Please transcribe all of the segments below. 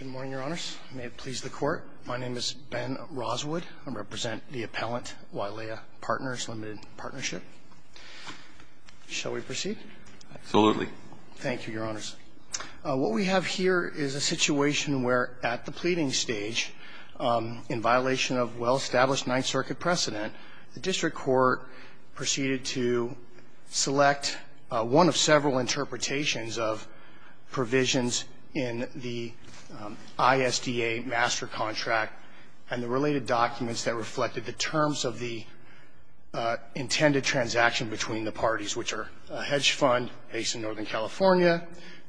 Good morning, Your Honors. May it please the Court. My name is Ben Roswood. I represent the appellant, Wailea Partners, Limited Partnership. Shall we proceed? Absolutely. Thank you, Your Honors. What we have here is a situation where, at the pleading stage, in violation of well-established Ninth Circuit precedent, the District Court proceeded to select one of several interpretations of provisions in the ISDA Master Contract and the related documents that reflected the terms of the intended transaction between the parties, which are a hedge fund based in Northern California,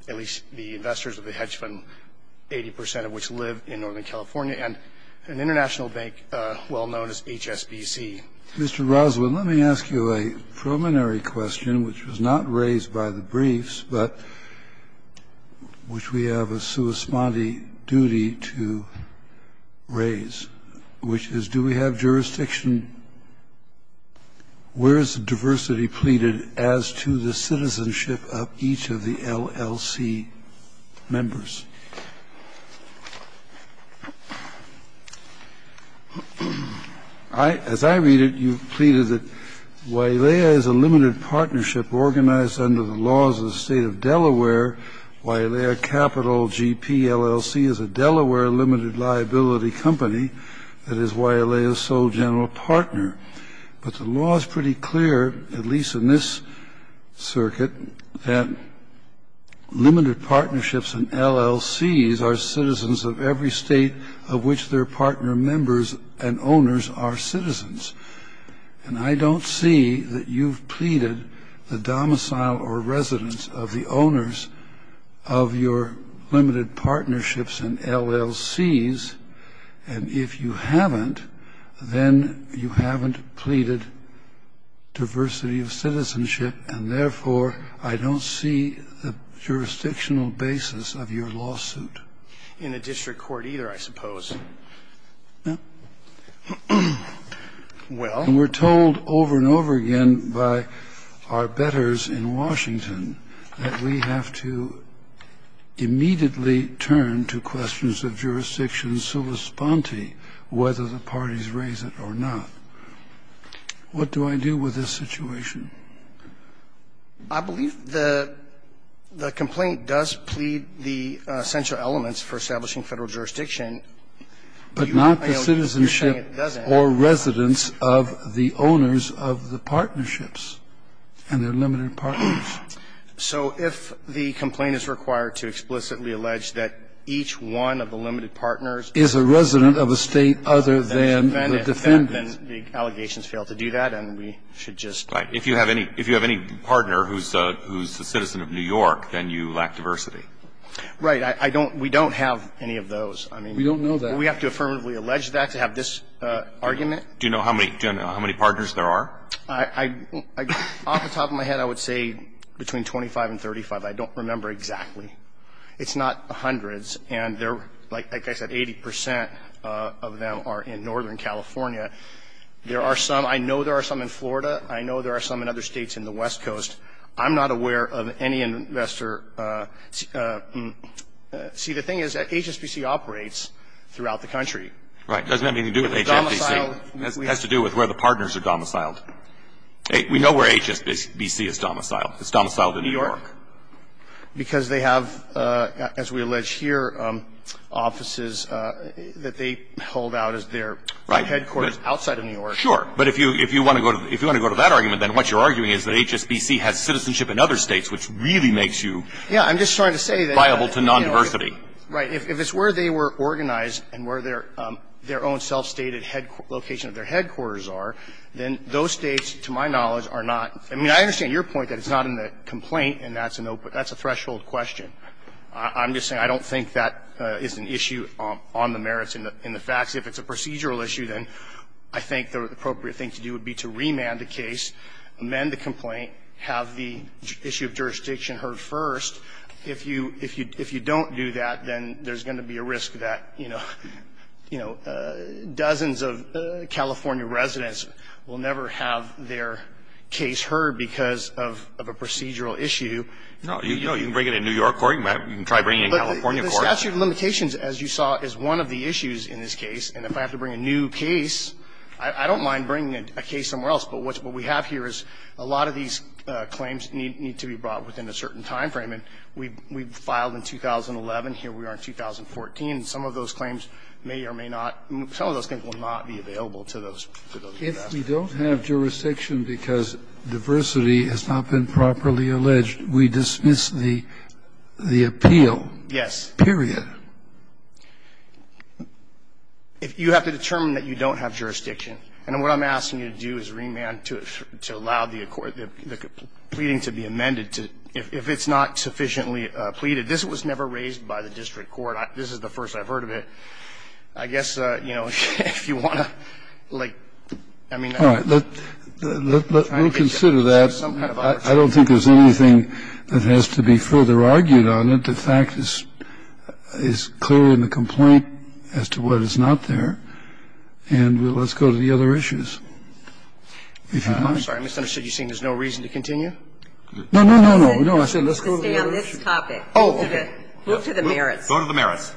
at least the investors of the hedge fund, 80 percent of which live in Northern California, and an international bank well known as HSBC. Mr. Roswood, let me ask you a preliminary question, which was not raised by the briefs, but which we have a sui spondi duty to raise, which is, do we have jurisdiction where is the diversity pleaded as to the citizenship of each of the LLC members? As I read it, you pleaded that Wailea is a limited partnership organized under the laws of the State of Delaware. Wailea Capital GP LLC is a Delaware limited liability company that is Wailea's sole general partner. But the law is pretty clear, at least in this circuit, that limited partnerships and LLCs are citizens of every state of which their partner members and owners are citizens. And I don't see that you've pleaded the domicile or residence of the owners of your limited partnerships and LLCs. And if you haven't, then you haven't pleaded diversity of citizenship, and therefore I don't see the jurisdictional basis of your lawsuit. In a district court either, I suppose. Well. And we're told over and over again by our bettors in Washington that we have to immediately turn to questions of jurisdiction sui spondi, whether the parties raise it or not. What do I do with this situation? I believe the complaint does plead the essential elements for establishing Federal jurisdiction. But not the citizenship or residence of the owners of the partnerships and their limited partners. So if the complaint is required to explicitly allege that each one of the limited partners is a resident of a state other than the defendant, then the allegations fail to do that and we should just. If you have any partner who's a citizen of New York, then you lack diversity. Right. We don't have any of those. We don't know that. We have to affirmatively allege that to have this argument. Do you know how many partners there are? Off the top of my head, I would say between 25 and 35. I don't remember exactly. It's not hundreds. And like I said, 80 percent of them are in northern California. There are some, I know there are some in Florida. I know there are some in other states in the West Coast. I'm not aware of any investor. See, the thing is that HSBC operates throughout the country. Right. It doesn't have anything to do with HSBC. It has to do with where the partners are domiciled. We know where HSBC is domiciled. It's domiciled in New York. Because they have, as we allege here, offices that they hold out as their headquarters. They have offices outside of New York. Sure. But if you want to go to that argument, then what you're arguing is that HSBC has citizenship in other states, which really makes you viable to non-diversity. Right. If it's where they were organized and where their own self-stated location of their headquarters are, then those states, to my knowledge, are not. I mean, I understand your point that it's not in the complaint and that's a threshold question. I'm just saying I don't think that is an issue on the merits in the facts. If it's a procedural issue, then I think the appropriate thing to do would be to remand the case, amend the complaint, have the issue of jurisdiction heard first. If you don't do that, then there's going to be a risk that, you know, dozens of California residents will never have their case heard because of a procedural issue. No. You can bring it in New York court. You can try bringing it in California court. The statute of limitations, as you saw, is one of the issues in this case. And if I have to bring a new case, I don't mind bringing a case somewhere else. But what we have here is a lot of these claims need to be brought within a certain time frame. And we filed in 2011. Here we are in 2014. Some of those claims may or may not be available to those jurisdictions. If we don't have jurisdiction because diversity has not been properly alleged, we dismiss the appeal. Yes. Period. You have to determine that you don't have jurisdiction. And what I'm asking you to do is remand to allow the pleading to be amended if it's not sufficiently pleaded. This was never raised by the district court. This is the first I've heard of it. I guess, you know, if you want to, like, I mean, that would be some kind of arbitration. I don't think there's anything that has to be further argued on it. The fact is clearly in the complaint as to what is not there. And let's go to the other issues, if you'd like. I'm sorry. I misunderstood. You're saying there's no reason to continue? No, no, no, no. I said let's go to the other issues. To stay on this topic. Oh, okay. Move to the merits. Go to the merits.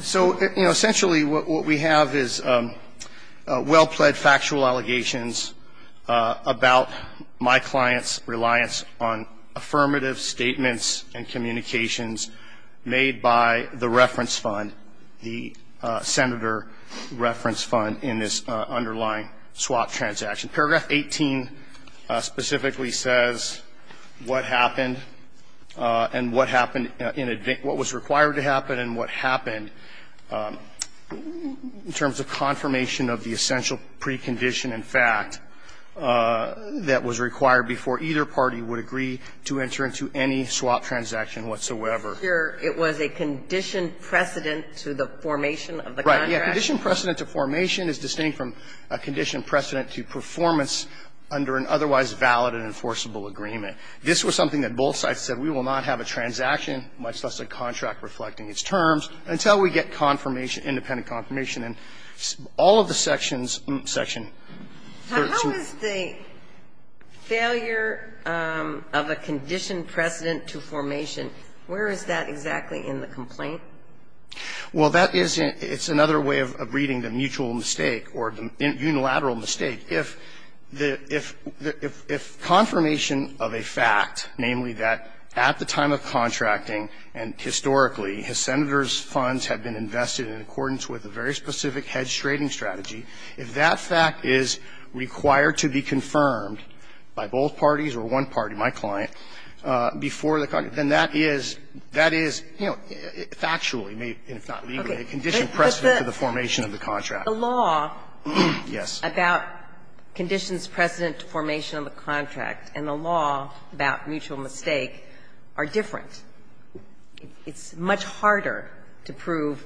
So, you know, essentially what we have is well-pled factual allegations about my client's reliance on affirmative statements and communications made by the reference fund, the Senator reference fund in this underlying swap transaction. Paragraph 18 specifically says what happened and what happened in advance, what was required to happen and what happened in terms of confirmation of the essential precondition in fact that was required before either party would agree to enter into any swap transaction whatsoever. Here it was a condition precedent to the formation of the contract. Right. Yeah. Condition precedent to formation is distinct from a condition precedent to performance under an otherwise valid and enforceable agreement. This was something that both sides said we will not have a transaction, much less a contract reflecting its terms, until we get confirmation, independent confirmation, and all of the sections of the section. How is the failure of a condition precedent to formation, where is that exactly in the complaint? Well, that is another way of reading the mutual mistake or unilateral mistake. If confirmation of a fact, namely that at the time of contracting and historically his senator's funds had been invested in accordance with a very specific hedge trading strategy, if that fact is required to be confirmed by both parties or one party, my client, before the contract, then that is, you know, factually, if not legally, a condition precedent to the formation of the contract. But the law about conditions precedent to formation of the contract and the law about mutual mistake are different. It's much harder to prove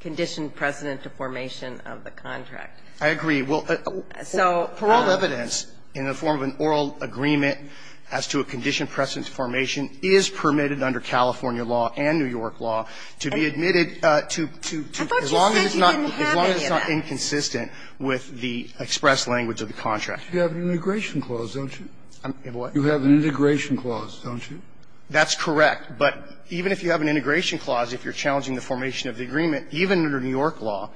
condition precedent to formation of the contract. I agree. Well, for all evidence, in the form of an oral agreement as to a condition precedent to formation is permitted under California law and New York law to be admitted to as long as it's not. I thought you said you didn't have any of that. As long as it's not inconsistent with the express language of the contract. You have an integration clause, don't you? You have an integration clause, don't you? That's correct. But even if you have an integration clause, if you're challenging the formation of the agreement, even under New York law,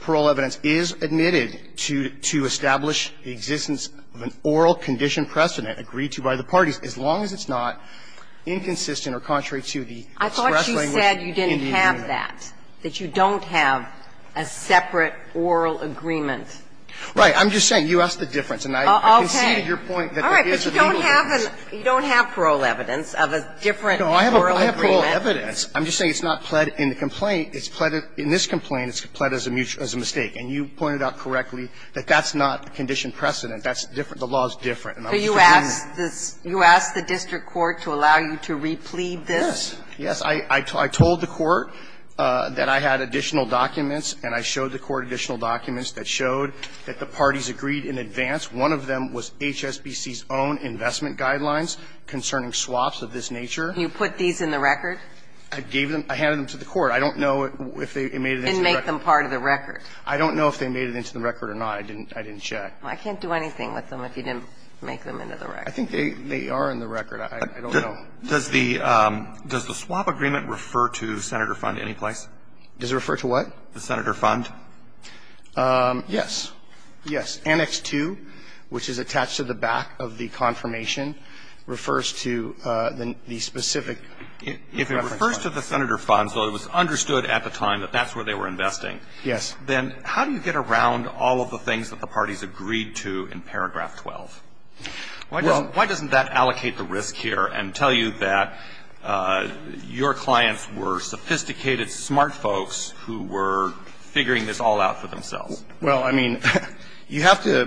parole evidence is admitted to establish the existence of an oral condition precedent agreed to by the parties as long as it's not inconsistent or contrary to the express language in the agreement. But you said that you don't have a separate oral agreement. Right. I'm just saying, you asked the difference. And I conceded your point that there is a legal difference. All right. But you don't have parole evidence of a different oral agreement. No, I have parole evidence. I'm just saying it's not pled in the complaint. It's pled in this complaint. It's pled as a mistake. And you pointed out correctly that that's not condition precedent. That's different. The law is different. So you asked the district court to allow you to replead this? Yes. Yes, I told the court that I had additional documents and I showed the court additional documents that showed that the parties agreed in advance. One of them was HSBC's own investment guidelines concerning swaps of this nature. You put these in the record? I gave them to the court. I don't know if they made it into the record. And make them part of the record. I don't know if they made it into the record or not. I didn't check. I can't do anything with them if you didn't make them into the record. I think they are in the record. I don't know. Does the swap agreement refer to the Senator fund any place? Does it refer to what? The Senator fund. Yes. Yes. Annex 2, which is attached to the back of the confirmation, refers to the specific reference fund. If it refers to the Senator fund, so it was understood at the time that that's where they were investing. Yes. Then how do you get around all of the things that the parties agreed to in paragraph 12? Why doesn't that allocate the risk here and tell you that your clients were sophisticated, smart folks who were figuring this all out for themselves? Well, I mean, you have to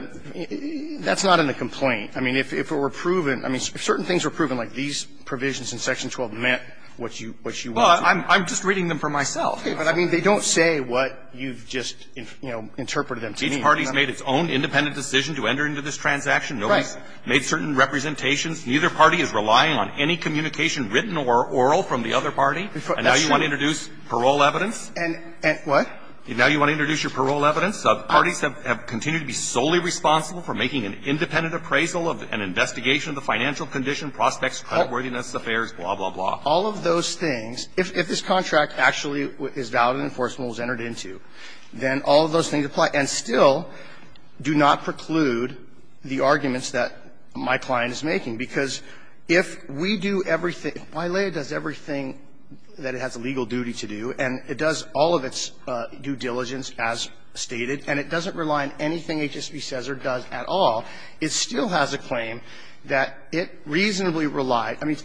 – that's not in the complaint. I mean, if it were proven – I mean, if certain things were proven, like these provisions in section 12 meant what you want to do. Well, I'm just reading them for myself. But, I mean, they don't say what you've just, you know, interpreted them to mean. Each party's made its own independent decision to enter into this transaction. Right. No one's made certain representations. Neither party is relying on any communication written or oral from the other party. That's true. And now you want to introduce parole evidence. And what? Now you want to introduce your parole evidence. Parties have continued to be solely responsible for making an independent appraisal of an investigation of the financial condition, prospects, creditworthiness, affairs, blah, blah, blah. All of those things, if this contract actually is valid and enforceable and was entered into, then all of those things apply. And still do not preclude the arguments that my client is making. Because if we do everything – if YLEA does everything that it has a legal duty to do, and it does all of its due diligence as stated, and it doesn't rely on anything HSB says or does at all, it still has a claim that it reasonably relied – I mean,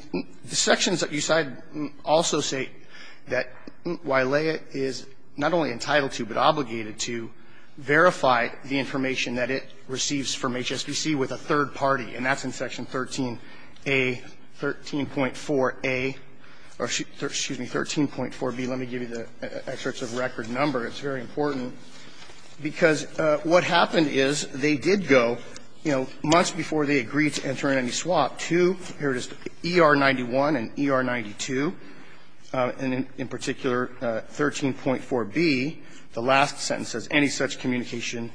the sections that you cite also say that YLEA is not only entitled to but obligated to verify the information that it receives from HSBC with a third party. And that's in Section 13a, 13.4a – or, excuse me, 13.4b. Let me give you the excerpts of record number. It's very important. Because what happened is they did go, you know, months before they agreed to enter in any swap to, here it is, ER-91 and ER-92, and in particular 13.4b, the last sentence says any such communication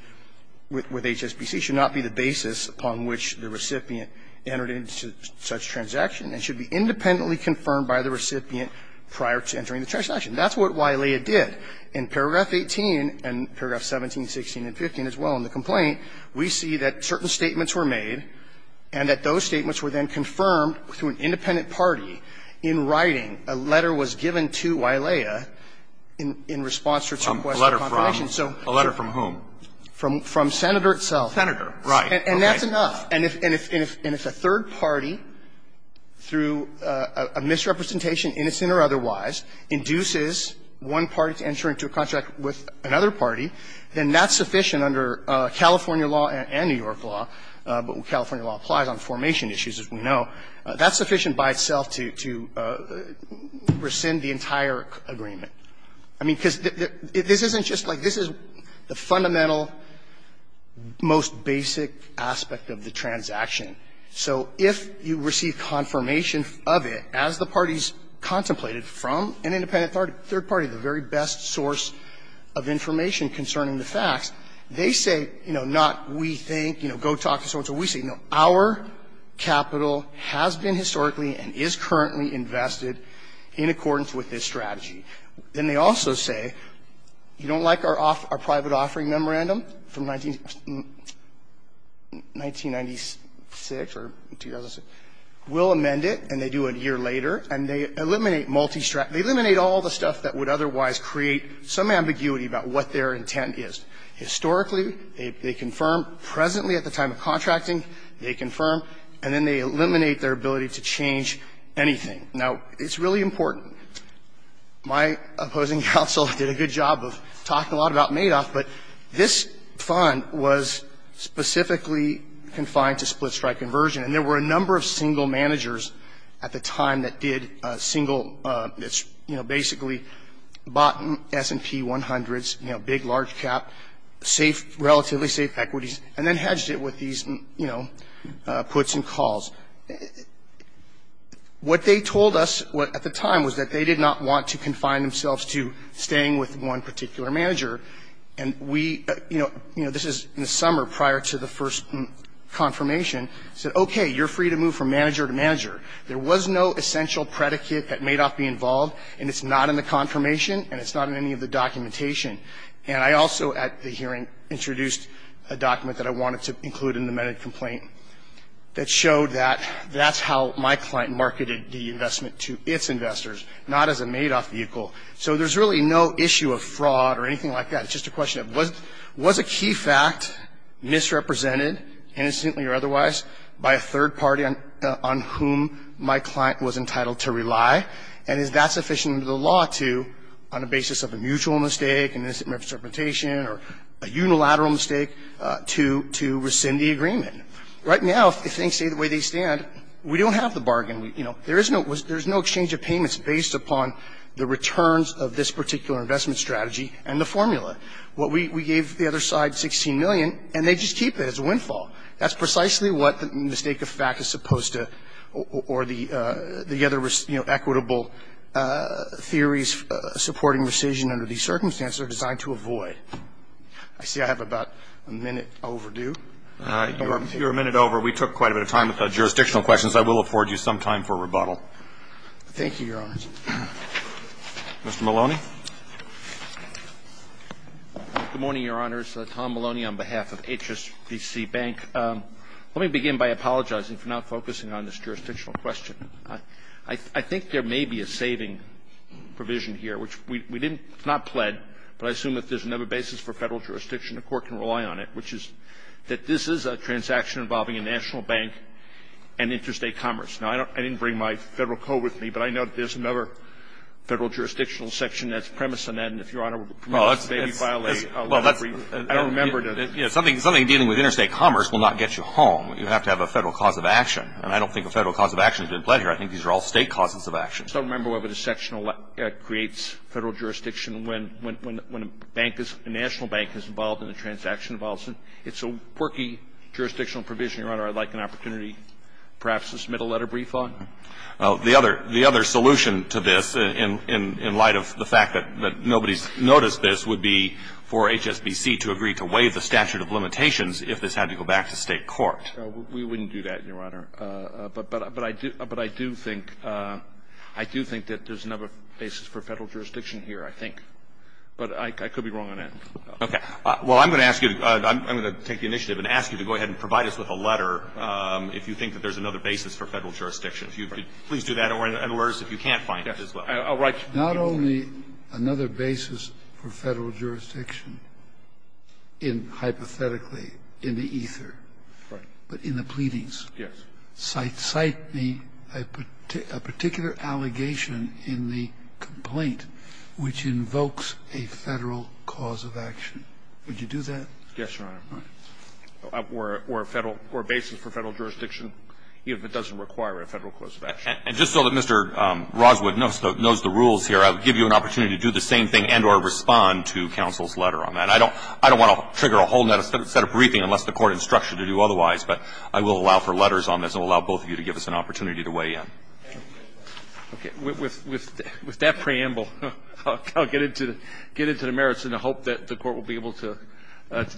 with HSBC should not be the basis upon which the recipient entered into such transaction and should be independently confirmed by the recipient prior to entering the transaction. That's what YLEA did in paragraph 18 and paragraph 17, 16, and 15 as well in the complaint. We see that certain statements were made and that those statements were then confirmed through an independent party in writing. A letter was given to YLEA in response to its request for confirmation. So to a letter from whom? From Senator itself. Senator, right. And that's enough. And if a third party, through a misrepresentation, innocent or otherwise, induces one party to enter into a contract with another party, then that's sufficient under California law and New York law, but California law applies on formation issues, as we know, that's sufficient by itself to rescind the entire agreement. I mean, because this isn't just like the fundamental, most basic aspect of the transaction. So if you receive confirmation of it as the parties contemplated from an independent third party, the very best source of information concerning the facts, they say, you know, not we think, you know, go talk to so-and-so, we say, you know, our capital has been historically and is currently invested in accordance with this strategy. Then they also say, you don't like our private offering memorandum from 1996 or 2006? We'll amend it, and they do it a year later, and they eliminate multi-strategy They eliminate all the stuff that would otherwise create some ambiguity about what their intent is. Historically, they confirm. Presently, at the time of contracting, they confirm. And then they eliminate their ability to change anything. Now, it's really important. My opposing counsel did a good job of talking a lot about Madoff, but this fund was specifically confined to split-strike conversion, and there were a number of single that's, you know, basically bought S&P 100s, you know, big, large cap, safe, relatively safe equities, and then hedged it with these, you know, puts and calls. What they told us at the time was that they did not want to confine themselves to staying with one particular manager, and we, you know, this is in the summer prior to the first confirmation, said, okay, you're free to move from manager to manager. There was no essential predicate that Madoff be involved, and it's not in the confirmation, and it's not in any of the documentation. And I also, at the hearing, introduced a document that I wanted to include in the amended complaint that showed that that's how my client marketed the investment to its investors, not as a Madoff vehicle. So there's really no issue of fraud or anything like that. It's just a question of was a key fact misrepresented, innocently or otherwise, by a third party on whom my client was entitled to rely, and is that sufficient under the law to, on the basis of a mutual mistake, an innocent misinterpretation, or a unilateral mistake, to rescind the agreement. Right now, if things stay the way they stand, we don't have the bargain. You know, there is no exchange of payments based upon the returns of this particular investment strategy and the formula. What we gave the other side, 16 million, and they just keep it as a windfall. That's precisely what the mistake of fact is supposed to, or the other, you know, equitable theories supporting rescission under these circumstances are designed to avoid. I see I have about a minute overdue. If you're a minute over, we took quite a bit of time with the jurisdictional questions. I will afford you some time for rebuttal. Thank you, Your Honors. Mr. Maloney? Good morning, Your Honors. Tom Maloney on behalf of HSBC Bank. Let me begin by apologizing for not focusing on this jurisdictional question. I think there may be a saving provision here, which we didn't, it's not pled, but I assume if there's another basis for Federal jurisdiction, the Court can rely on it, which is that this is a transaction involving a national bank and interstate commerce. Now, I didn't bring my Federal code with me, but I know there's another Federal jurisdictional section that's premised on that, and if Your Honor would permit, I would like an opportunity perhaps to submit a letter of brief on it. Well, the other solution to this, in light of the fact that nobody's noticed this, would be to have a Federal cause of action. And I don't think a Federal cause of action is a pleasure. I think these are all State causes of action. I don't remember whether the section creates Federal jurisdiction when a bank is, a national bank is involved in a transaction. It's a quirky jurisdictional provision, Your Honor. I'd like an opportunity perhaps to submit a letter of brief on it. Well, the other solution to this, in light of the fact that nobody's noticed this, would be for HSBC to agree to waive the statute of limitations if this had to go back to State court. We wouldn't do that, Your Honor. But I do think that there's another basis for Federal jurisdiction here, I think. But I could be wrong on that. Okay. Well, I'm going to ask you to go ahead and provide us with a letter if you think that there's another basis for Federal jurisdiction. If you could please do that, or in other words, if you can't find it as well. Yes. I'll write to you. Not only another basis for Federal jurisdiction in, hypothetically, in the ether. Right. But in the pleadings. Yes. Cite the particular allegation in the complaint which invokes a Federal cause of action. Would you do that? Yes, Your Honor. All right. Okay. Or a basis for Federal jurisdiction, if it doesn't require a Federal cause of action? And just so that Mr. Roswood knows the rules here, I would give you an opportunity to do the same thing and or respond to counsel's letter on that. I don't want to trigger a whole net of briefings unless the Court instructs you to do otherwise. But I will allow for letters on this and allow both of you to give us an opportunity to weigh in. Okay. With that preamble, I'll get into the merits, and I hope that the Court will be able to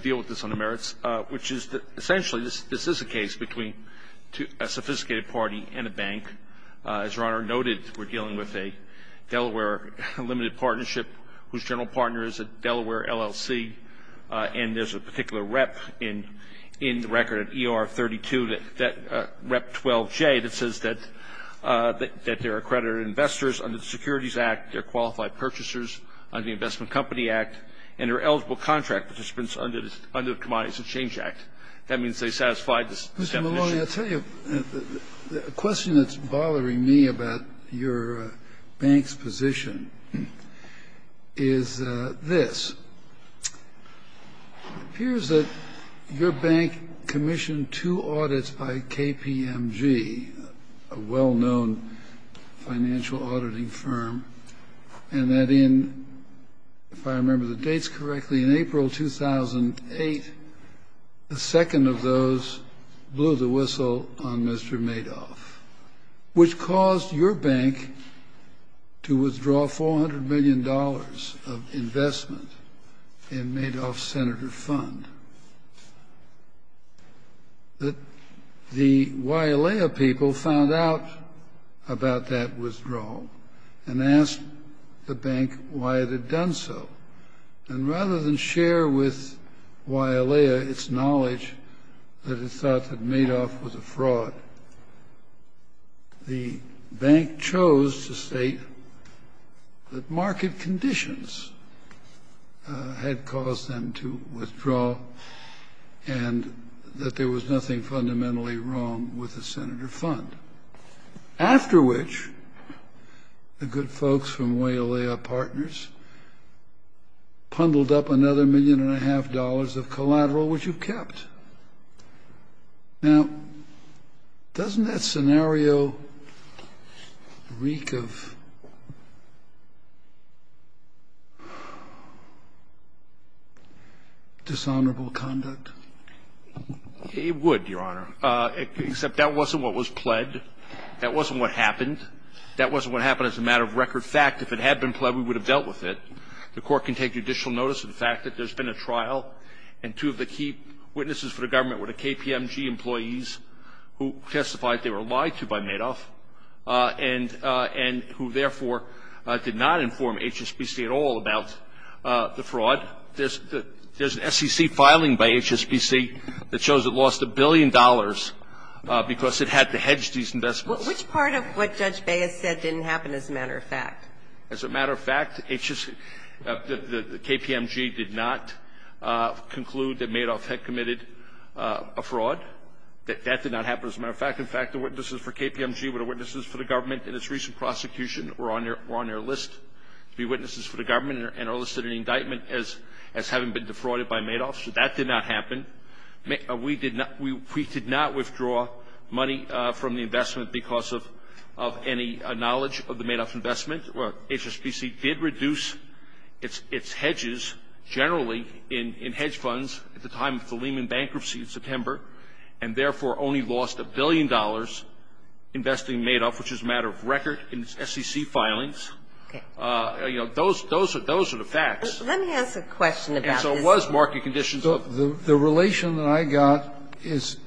deal with this on the merits, which is essentially this is a case between a sophisticated party and a bank. As Your Honor noted, we're dealing with a Delaware limited partnership whose general partner is a Delaware LLC, and there's a particular rep in the record at ER 32, Rep 12J, that says that they're accredited investors under the Securities Act. They're qualified purchasers under the Investment Company Act, and they're eligible contract participants under the Commodities and Exchange Act. That means they satisfy this definition. Kennedy, Mr. Maloney, I'll tell you, a question that's bothering me about your bank's position is this. It appears that your bank commissioned two audits by KPMG, a well-known financial auditing firm, and that in, if I remember the dates correctly, in April 2008, the second of those blew the whistle on Mr. Madoff, which caused your bank to withdraw $400 million of investment in Madoff's senator fund. The YALEA people found out about that withdrawal and asked the bank why it had done so. And rather than share with YALEA its knowledge that it thought that Madoff was a fraud, the conditions had caused them to withdraw, and that there was nothing fundamentally wrong with the senator fund. After which, the good folks from YALEA Partners pundled up another million and a half dollars of collateral, which you kept. Now, doesn't that scenario reek of dishonorable conduct? It would, Your Honor, except that wasn't what was pled. That wasn't what happened. That wasn't what happened as a matter of record fact. If it had been pled, we would have dealt with it. The Court can take judicial notice of the fact that there's been a trial and two of the key witnesses for the government were the KPMG employees who testified they were lied to by Madoff and who, therefore, did not inform HSBC at all about the fraud. There's an SEC filing by HSBC that shows it lost a billion dollars because it had to hedge these investments. Which part of what Judge Baez said didn't happen as a matter of fact? As a matter of fact, HSBC, the KPMG did not conclude that Madoff had committed a fraud. That did not happen as a matter of fact. In fact, the witnesses for KPMG were the witnesses for the government, and its recent prosecution were on their list to be witnesses for the government and are listed in the indictment as having been defrauded by Madoff, so that did not happen. We did not withdraw money from the investment because of any knowledge of the Madoff investment. HSBC did reduce its hedges generally in hedge funds at the time of the Lehman bankruptcy in September, and therefore only lost a billion dollars investing in Madoff, which is a matter of record in its SEC filings. You know, those are the facts. Let me ask a question about this. And so it was market conditions. The relation that I got is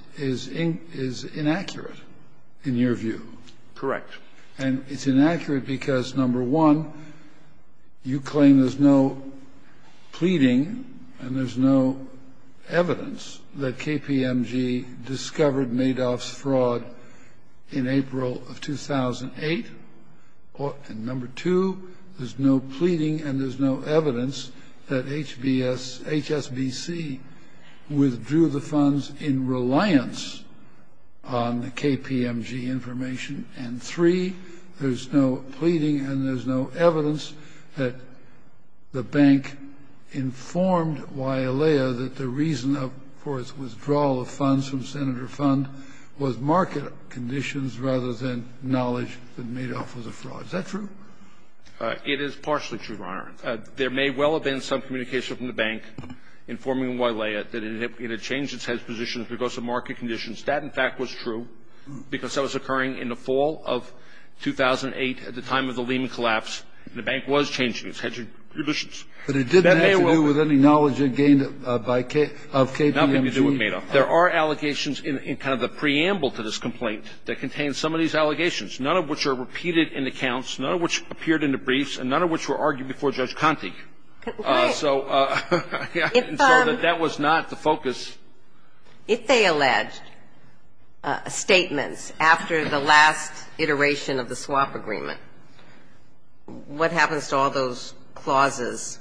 inaccurate, in your view. Correct. And it's inaccurate because, number one, you claim there's no pleading and there's no evidence that KPMG discovered Madoff's fraud in April of 2008. And number two, there's no pleading and there's no evidence that HSBC withdrew the funds in reliance on the KPMG information. And three, there's no pleading and there's no evidence that the bank informed Wileya that the reason, of course, for its withdrawal of funds from Senator Fund was market conditions rather than knowledge that Madoff was a fraud. Is that true? It is partially true, Your Honor. There may well have been some communication from the bank informing Wileya that it had changed its head's position because of market conditions. That, in fact, was true because that was occurring in the fall of 2008 at the time of the Lehman Collapse, and the bank was changing its head's positions. But it didn't have to do with any knowledge gained by K-of KPMG. Not having to do with Madoff. There are allegations in kind of the preamble to this complaint that contain some of these allegations, none of which are repeated in the counts, none of which appeared in the briefs, and none of which were argued before Judge Conte. So that was not the focus. If they alleged statements after the last iteration of the swap agreement, what happens to all those clauses?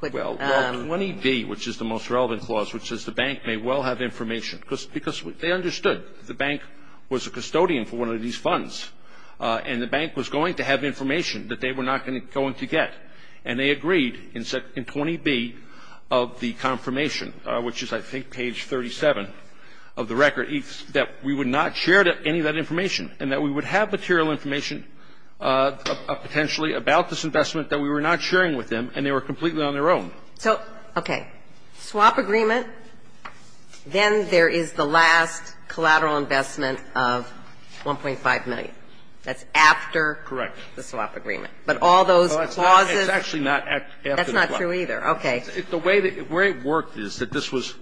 Well, 20B, which is the most relevant clause, which says the bank may well have information, because they understood the bank was a custodian for one of these funds, and the bank was going to have information that they were not going to get. And they agreed in 20B of the confirmation, which is, I think, page 37 of the record, that we would not share any of that information, and that we would have material information potentially about this investment that we were not sharing with them, and they were completely on their own. So, okay, swap agreement, then there is the last collateral investment of $1.5 million. That's after the swap agreement. Correct. But all those clauses? It's actually not after the swap. That's not true either. Okay. The way it worked is that this was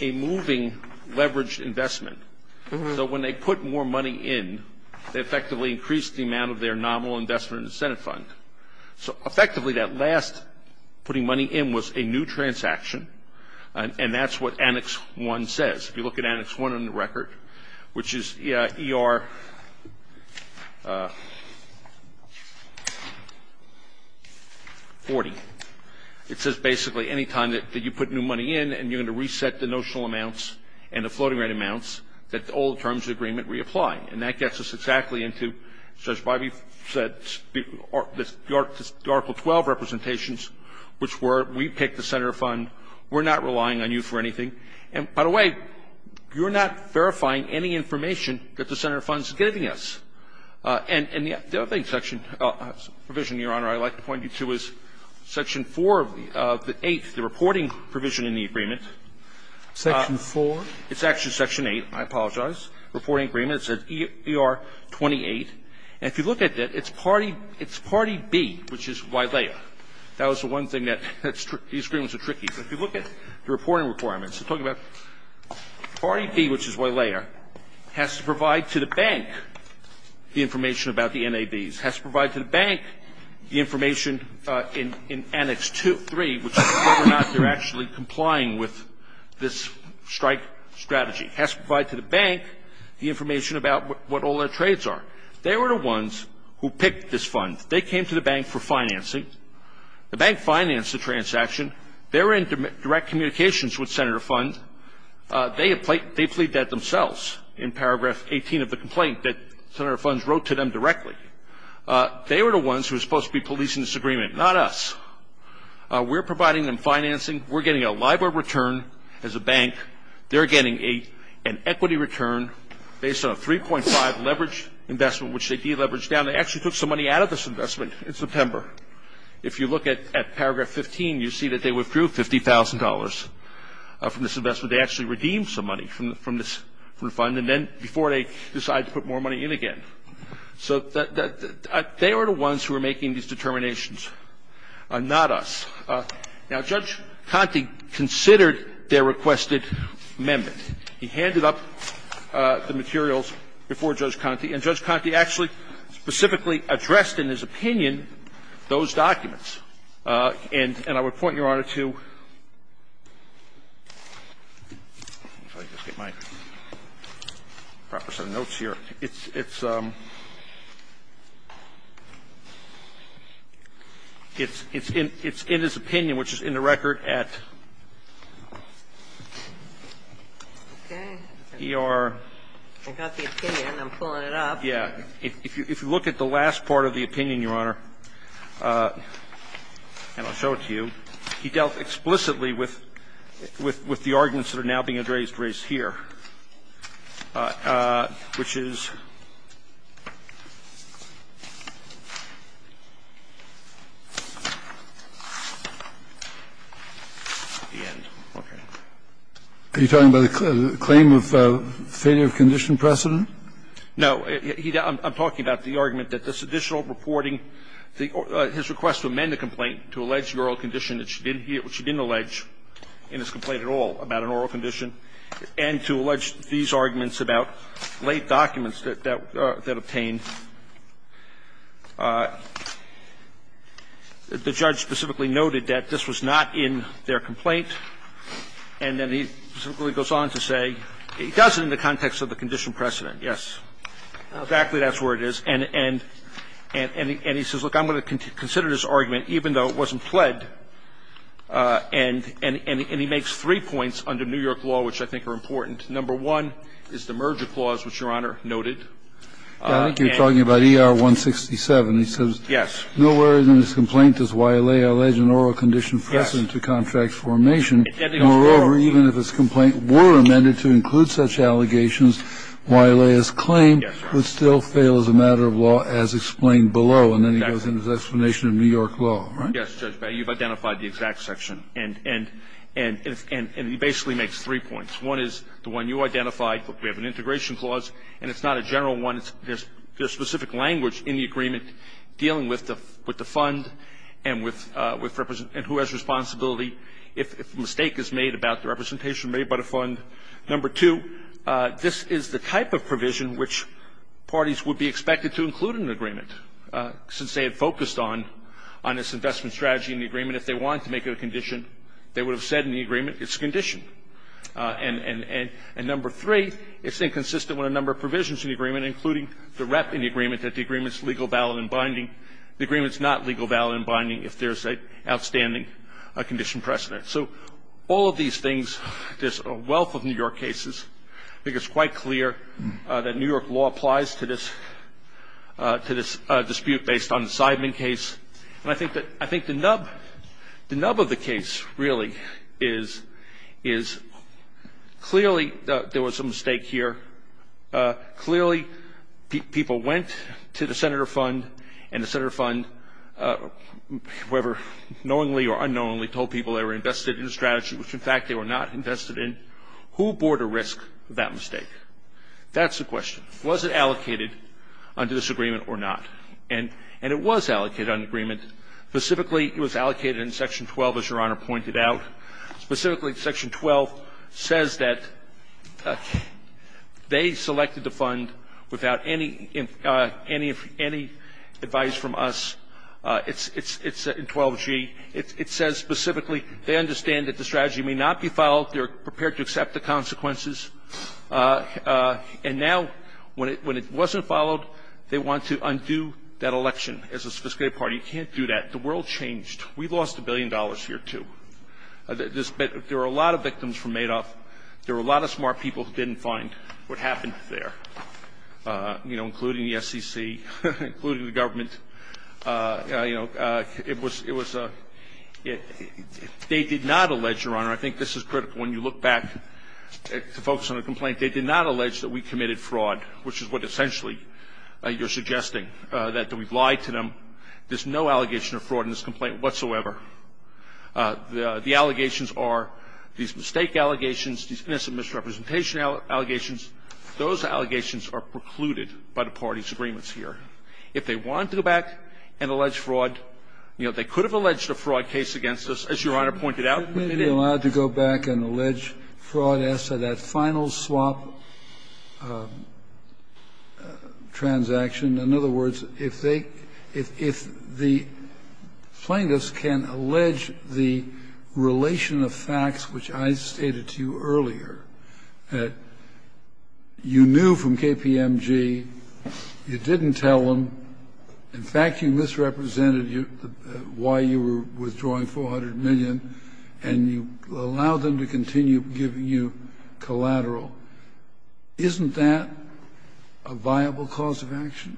a moving leveraged investment. So when they put more money in, they effectively increased the amount of their nominal investment in the Senate fund. So effectively, that last putting money in was a new transaction, and that's what Annex I says. If you look at Annex I on the record, which is ER40, it says basically any time that you put new money in, and you're going to reset the notional amounts and the floating rate amounts, that all terms of agreement reapply. And that gets us exactly into, as Judge Bivey said, the Article 12 representations, which were, we picked the Senate fund, we're not relying on you for anything. And by the way, you're not verifying any information that the Senate fund is giving us. And the other thing, section of provision, Your Honor, I'd like to point you to is section 4 of the 8th, the reporting provision in the agreement. Section 4? It's actually section 8, I apologize, reporting agreement. It says ER28. And if you look at it, it's party B, which is YLEA. That was the one thing that these agreements are tricky. But if you look at the reporting requirements, it's talking about party B, which is YLEA, has to provide to the bank the information about the NABs, has to provide to the bank the information in Annex II, III, which is whether or not they're actually complying with this strike strategy, has to provide to the bank the information about what all their trades are. They were the ones who picked this fund. They came to the bank for financing. The bank financed the transaction. They were in direct communications with Senator Fund. They had plaid that themselves in paragraph 18 of the complaint that Senator Fund wrote to them directly. They were the ones who were supposed to be policing this agreement, not us. We're providing them financing. We're getting a LIBOR return as a bank. They're getting an equity return based on a 3.5 leverage investment, which they deleveraged down. They actually took some money out of this investment in September. If you look at paragraph 15, you see that they withdrew $50,000 from this investment. They actually redeemed some money from this fund, and then before they decided to put more money in again. So they were the ones who were making these determinations, not us. Now, Judge Conte considered their requested amendment. He handed up the materials before Judge Conte, and Judge Conte actually specifically addressed in his opinion those documents. And I would point Your Honor to my proper set of notes here. It's in his opinion, which is in the record at ER. I got the opinion. I'm pulling it up. Yeah. If you look at the last part of the opinion, Your Honor, and I'll show it to you, he dealt explicitly with the arguments that are now being raised here, which is the end. Okay. Are you talking about a claim of failure of condition precedent? No. I'm talking about the argument that this additional reporting, his request to amend the complaint to allege the oral condition that she didn't allege in his complaint at all about an oral condition, and to allege these arguments about late documents that that obtained. The judge specifically noted that this was not in their complaint, and then he specifically goes on to say he does it in the context of the condition precedent. Yes, exactly that's where it is. And he says, look, I'm going to consider this argument even though it wasn't pled. And he makes three points under New York law which I think are important. Number one is the merger clause, which Your Honor noted. I think you're talking about ER-167. He says, nowhere in this complaint does YLA allege an oral condition precedent to contract formation. Moreover, even if this complaint were amended to include such allegations, YLA's claim would still fail as a matter of law as explained below. And then he goes into his explanation of New York law, right? Yes, Judge Beyer, you've identified the exact section. And he basically makes three points. One is the one you identified, we have an integration clause, and it's not a general one. There's specific language in the agreement dealing with the fund and with who has responsibility if a mistake is made about the representation made by the fund. Number two, this is the type of provision which parties would be expected to include in an agreement. Since they had focused on this investment strategy in the agreement, if they wanted to make it a condition, they would have said in the agreement it's a condition. And number three, it's inconsistent with a number of provisions in the agreement, including the rep in the agreement that the agreement's legal, valid, and binding. The agreement's not legal, valid, and binding if there's an outstanding condition precedent. So all of these things, there's a wealth of New York cases. I think it's quite clear that New York law applies to this dispute based on the Seidman case. And I think the nub of the case, really, is clearly there was a mistake here. Clearly, people went to the Senator Fund, and the Senator Fund, knowingly or unknowingly, told people they were invested in the strategy, which, in fact, they were not invested in. Who bore the risk of that mistake? That's the question. Was it allocated under this agreement or not? And it was allocated under the agreement. Specifically, it was allocated in Section 12, as Your Honor pointed out. Specifically, Section 12 says that they selected the fund without any advice from us. It's in 12G. It says specifically, they understand that the strategy may not be followed. They're prepared to accept the consequences. And now, when it wasn't followed, they want to undo that election as a sophisticated party. You can't do that. The world changed. We lost a billion dollars here, too. There were a lot of victims from Madoff. There were a lot of smart people who didn't find what happened there, you know, including the SEC, including the government. You know, it was a – they did not allege, Your Honor – I think this is critical when you look back to focus on a complaint – they did not allege that we committed fraud, which is what, essentially, you're suggesting, that we've lied to them. There's no allegation of fraud in this complaint whatsoever. The allegations are these mistake allegations, these innocent misrepresentation allegations. Those allegations are precluded by the parties' agreements here. If they want to go back and allege fraud, you know, they could have alleged a fraud case against us, as Your Honor pointed out. Kennedy allowed to go back and allege fraud as to that final swap transaction. In other words, if they – if the plaintiffs can allege the relation of facts, which I stated to you earlier, that you knew from KPMG, you didn't tell them, in fact, you misrepresented why you were withdrawing $400 million, and you allowed them to continue giving you collateral, isn't that a viable cause of action?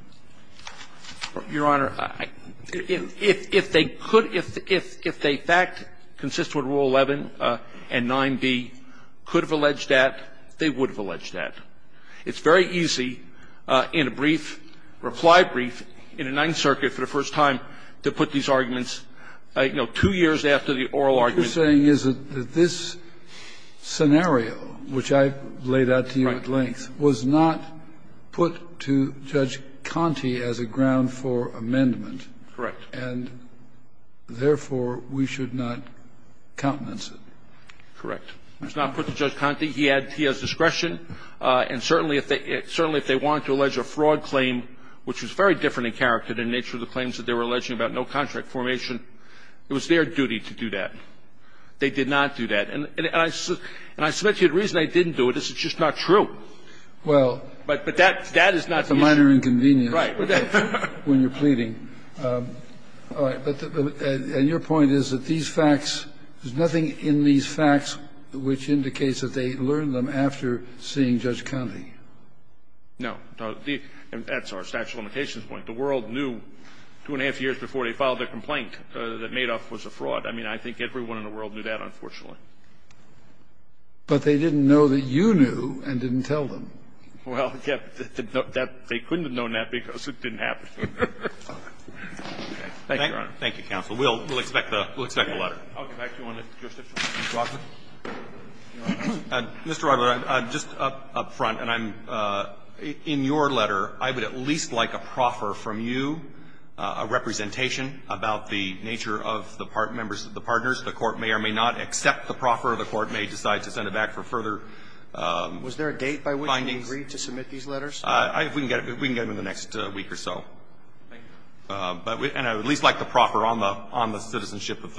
Your Honor, if they could – if a fact consists with Rule 11 and 9b could have alleged that, they would have alleged that. It's very easy in a brief, reply brief, in a Ninth Circuit for the first time, to put these arguments, you know, two years after the oral argument. What you're saying is that this scenario, which I laid out to you at length, was not put to Judge Conte as a ground for amendment. Correct. And therefore, we should not countenance it. Correct. It was not put to Judge Conte. He had – he has discretion. And certainly if they – certainly if they wanted to allege a fraud claim, which was very different in character than the nature of the claims that they were alleging about no contract formation, it was their duty to do that. They did not do that. And I – and I submit to you the reason they didn't do it is it's just not true. Well, that's a minor inconvenience when you're pleading. All right. But your point is that these facts, there's nothing in these facts which indicates that they learned them after seeing Judge Conte. No. That's our statute of limitations point. The world knew two and a half years before they filed their complaint that Madoff was a fraud. I mean, I think everyone in the world knew that, unfortunately. But they didn't know that you knew and didn't tell them. Well, yes. They couldn't have known that because it didn't happen. Thank you, Your Honor. Thank you, counsel. We'll expect the letter. I'll get back to you on the jurisdiction. Mr. Rockwood. Mr. Rockwood, just up front, and I'm – in your letter, I would at least like a proffer from you, a representation about the nature of the members of the partners. The Court may or may not accept the proffer, or the Court may decide to send it back for further findings. Was there a date by which we agreed to submit these letters? We can get them in the next week or so. Thank you. And I would at least like the proffer on the citizenship of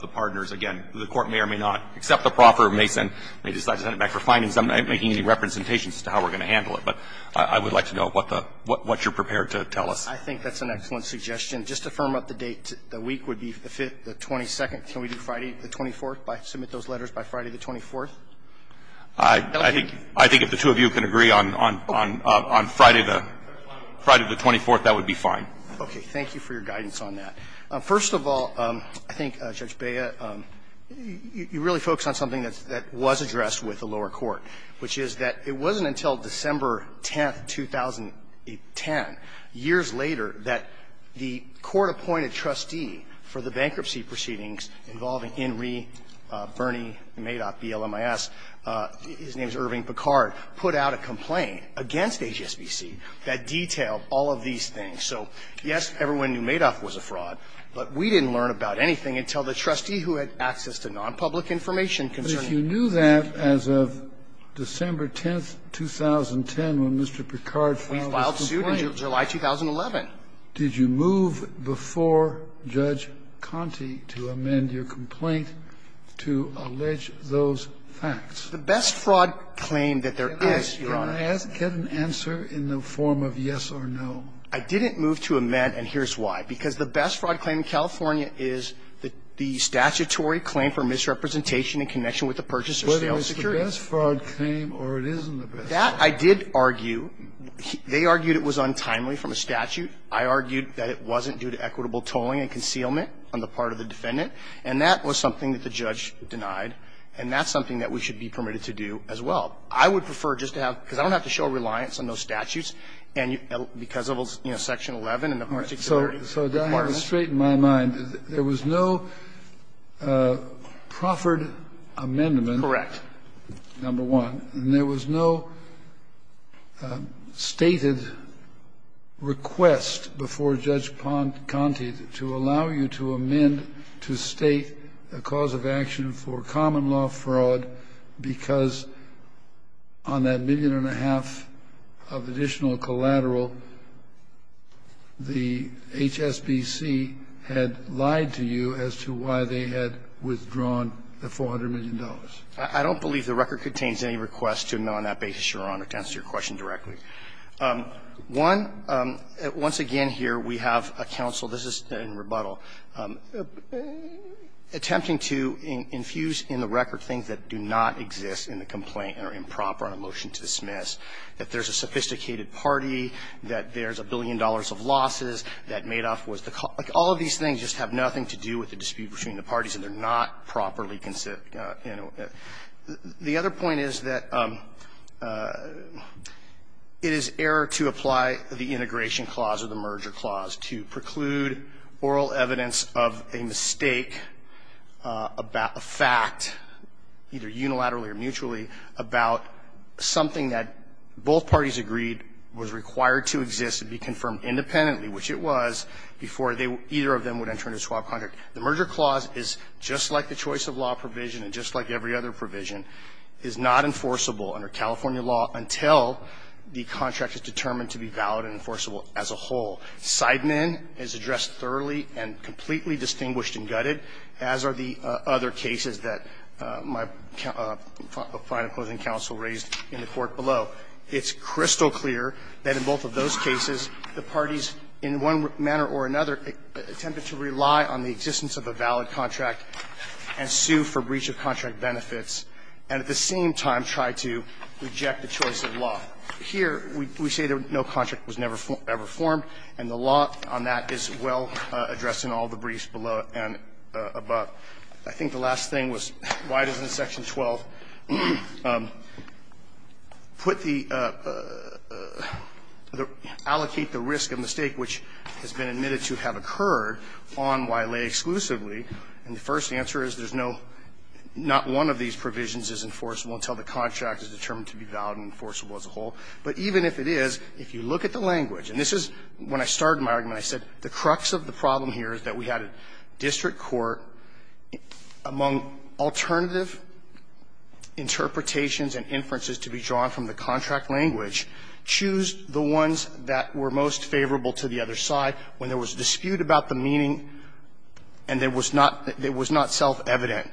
the partners. Again, the Court may or may not accept the proffer, or may decide to send it back for findings. I'm not making any representations as to how we're going to handle it. But I would like to know what the – what you're prepared to tell us. I think that's an excellent suggestion. Just to firm up the date, the week would be the 22nd. Can we do Friday the 24th, submit those letters by Friday the 24th? I think if the two of you can agree on Friday the 24th, that would be fine. Okay. Thank you for your guidance on that. First of all, I think, Judge Bea, you really focus on something that was addressed with the lower court, which is that it wasn't until December 10th, 2010, years later, that the court-appointed trustee for the bankruptcy proceedings involving Inree, Bernie, Madoff, BLMIS, his name is Irving Picard, put out a complaint against HSBC that detailed all of these things. So, yes, everyone knew Madoff was a fraud, but we didn't learn about anything until the trustee who had access to nonpublic information concerning it. But if you knew that as of December 10th, 2010, when Mr. Picard filed his complaint in July 2011. Did you move before Judge Conte to amend your complaint to allege those facts? The best fraud claim that there is, Your Honor. Can I get an answer in the form of yes or no? I didn't move to amend, and here's why. Because the best fraud claim in California is the statutory claim for misrepresentation in connection with the purchaser's sale of security. And that, I did argue, they argued it was untimely from a statute. I argued that it wasn't due to equitable tolling and concealment on the part of the defendant. And that was something that the judge denied, and that's something that we should be permitted to do as well. I would prefer just to have, because I don't have to show a reliance on those statutes, and because of, you know, Section 11 and the particular part of that. So to straighten my mind, there was no proffered amendment. Correct. Number one. And there was no stated request before Judge Conte to allow you to amend to state a cause of action for common law fraud, because on that $1.5 million of additional collateral, the HSBC had lied to you as to why they had withdrawn the $400 million. I don't believe the record contains any request to amend on that basis, Your Honor, to answer your question directly. One, once again here, we have a counsel, this is in rebuttal, attempting to infuse in the record things that do not exist in the complaint and are improper on a motion to dismiss, that there's a sophisticated party, that there's a billion dollars of losses, that Madoff was the cause. Like, all of these things just have nothing to do with the dispute between the parties and they're not properly considered, you know. The other point is that it is error to apply the integration clause or the merger clause to preclude oral evidence of a mistake about a fact, either unilaterally or mutually, about something that both parties agreed was required to exist and be confirmed independently, which it was, before either of them would enter into a swap contract. The merger clause is, just like the choice of law provision and just like every other provision, is not enforceable under California law until the contract is determined to be valid and enforceable as a whole. Seidman is addressed thoroughly and completely distinguished and gutted, as are the other cases that my final closing counsel raised in the Court below. It's crystal clear that in both of those cases, the parties, in one manner or another, attempted to rely on the existence of a valid contract and sue for breach of contract benefits, and at the same time tried to reject the choice of law. Here, we say that no contract was never formed, and the law on that is well addressed in all the briefs below and above. I think the last thing was why doesn't Section 12 put the allocate the risk of mistake, which has been admitted to have occurred, on Wiley exclusively? And the first answer is there's no – not one of these provisions is enforceable until the contract is determined to be valid and enforceable as a whole. But even if it is, if you look at the language, and this is when I started my argument. I said the crux of the problem here is that we had a district court among alternative interpretations and inferences to be drawn from the contract language choose the ones that were most favorable to the other side when there was dispute about the meaning and it was not – it was not self-evident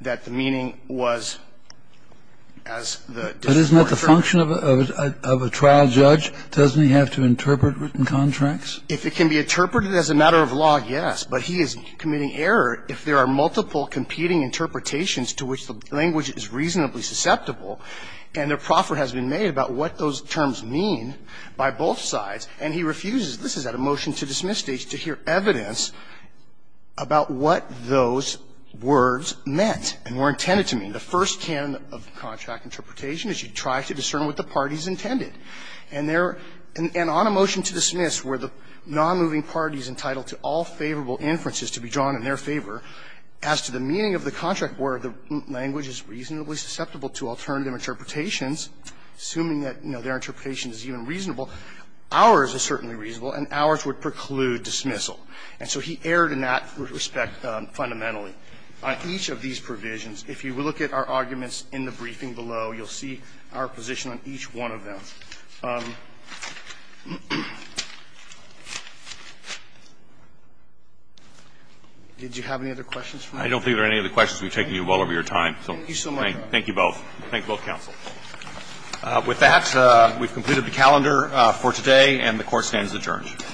that the meaning was as the district court. But isn't that the function of a trial judge? Doesn't he have to interpret written contracts? If it can be interpreted as a matter of law, yes. But he is committing error if there are multiple competing interpretations to which the language is reasonably susceptible, and a proffer has been made about what those terms mean by both sides, and he refuses – this is at a motion-to-dismiss stage – to hear evidence about what those words meant and were intended to mean. The first canon of contract interpretation is you try to discern what the party has intended. And there – and on a motion to dismiss where the nonmoving party is entitled to all favorable inferences to be drawn in their favor, as to the meaning of the contract where the language is reasonably susceptible to alternative interpretations, assuming that, you know, their interpretation is even reasonable, ours is certainly reasonable, and ours would preclude dismissal. And so he erred in that respect fundamentally. On each of these provisions, if you look at our arguments in the briefing below, you'll see our position on each one of them. Did you have any other questions for me? I don't think there are any other questions. We've taken you well over your time. Thank you so much. Thank you both. Thank you both, counsel. With that, we've completed the calendar for today, and the Court stands adjourned.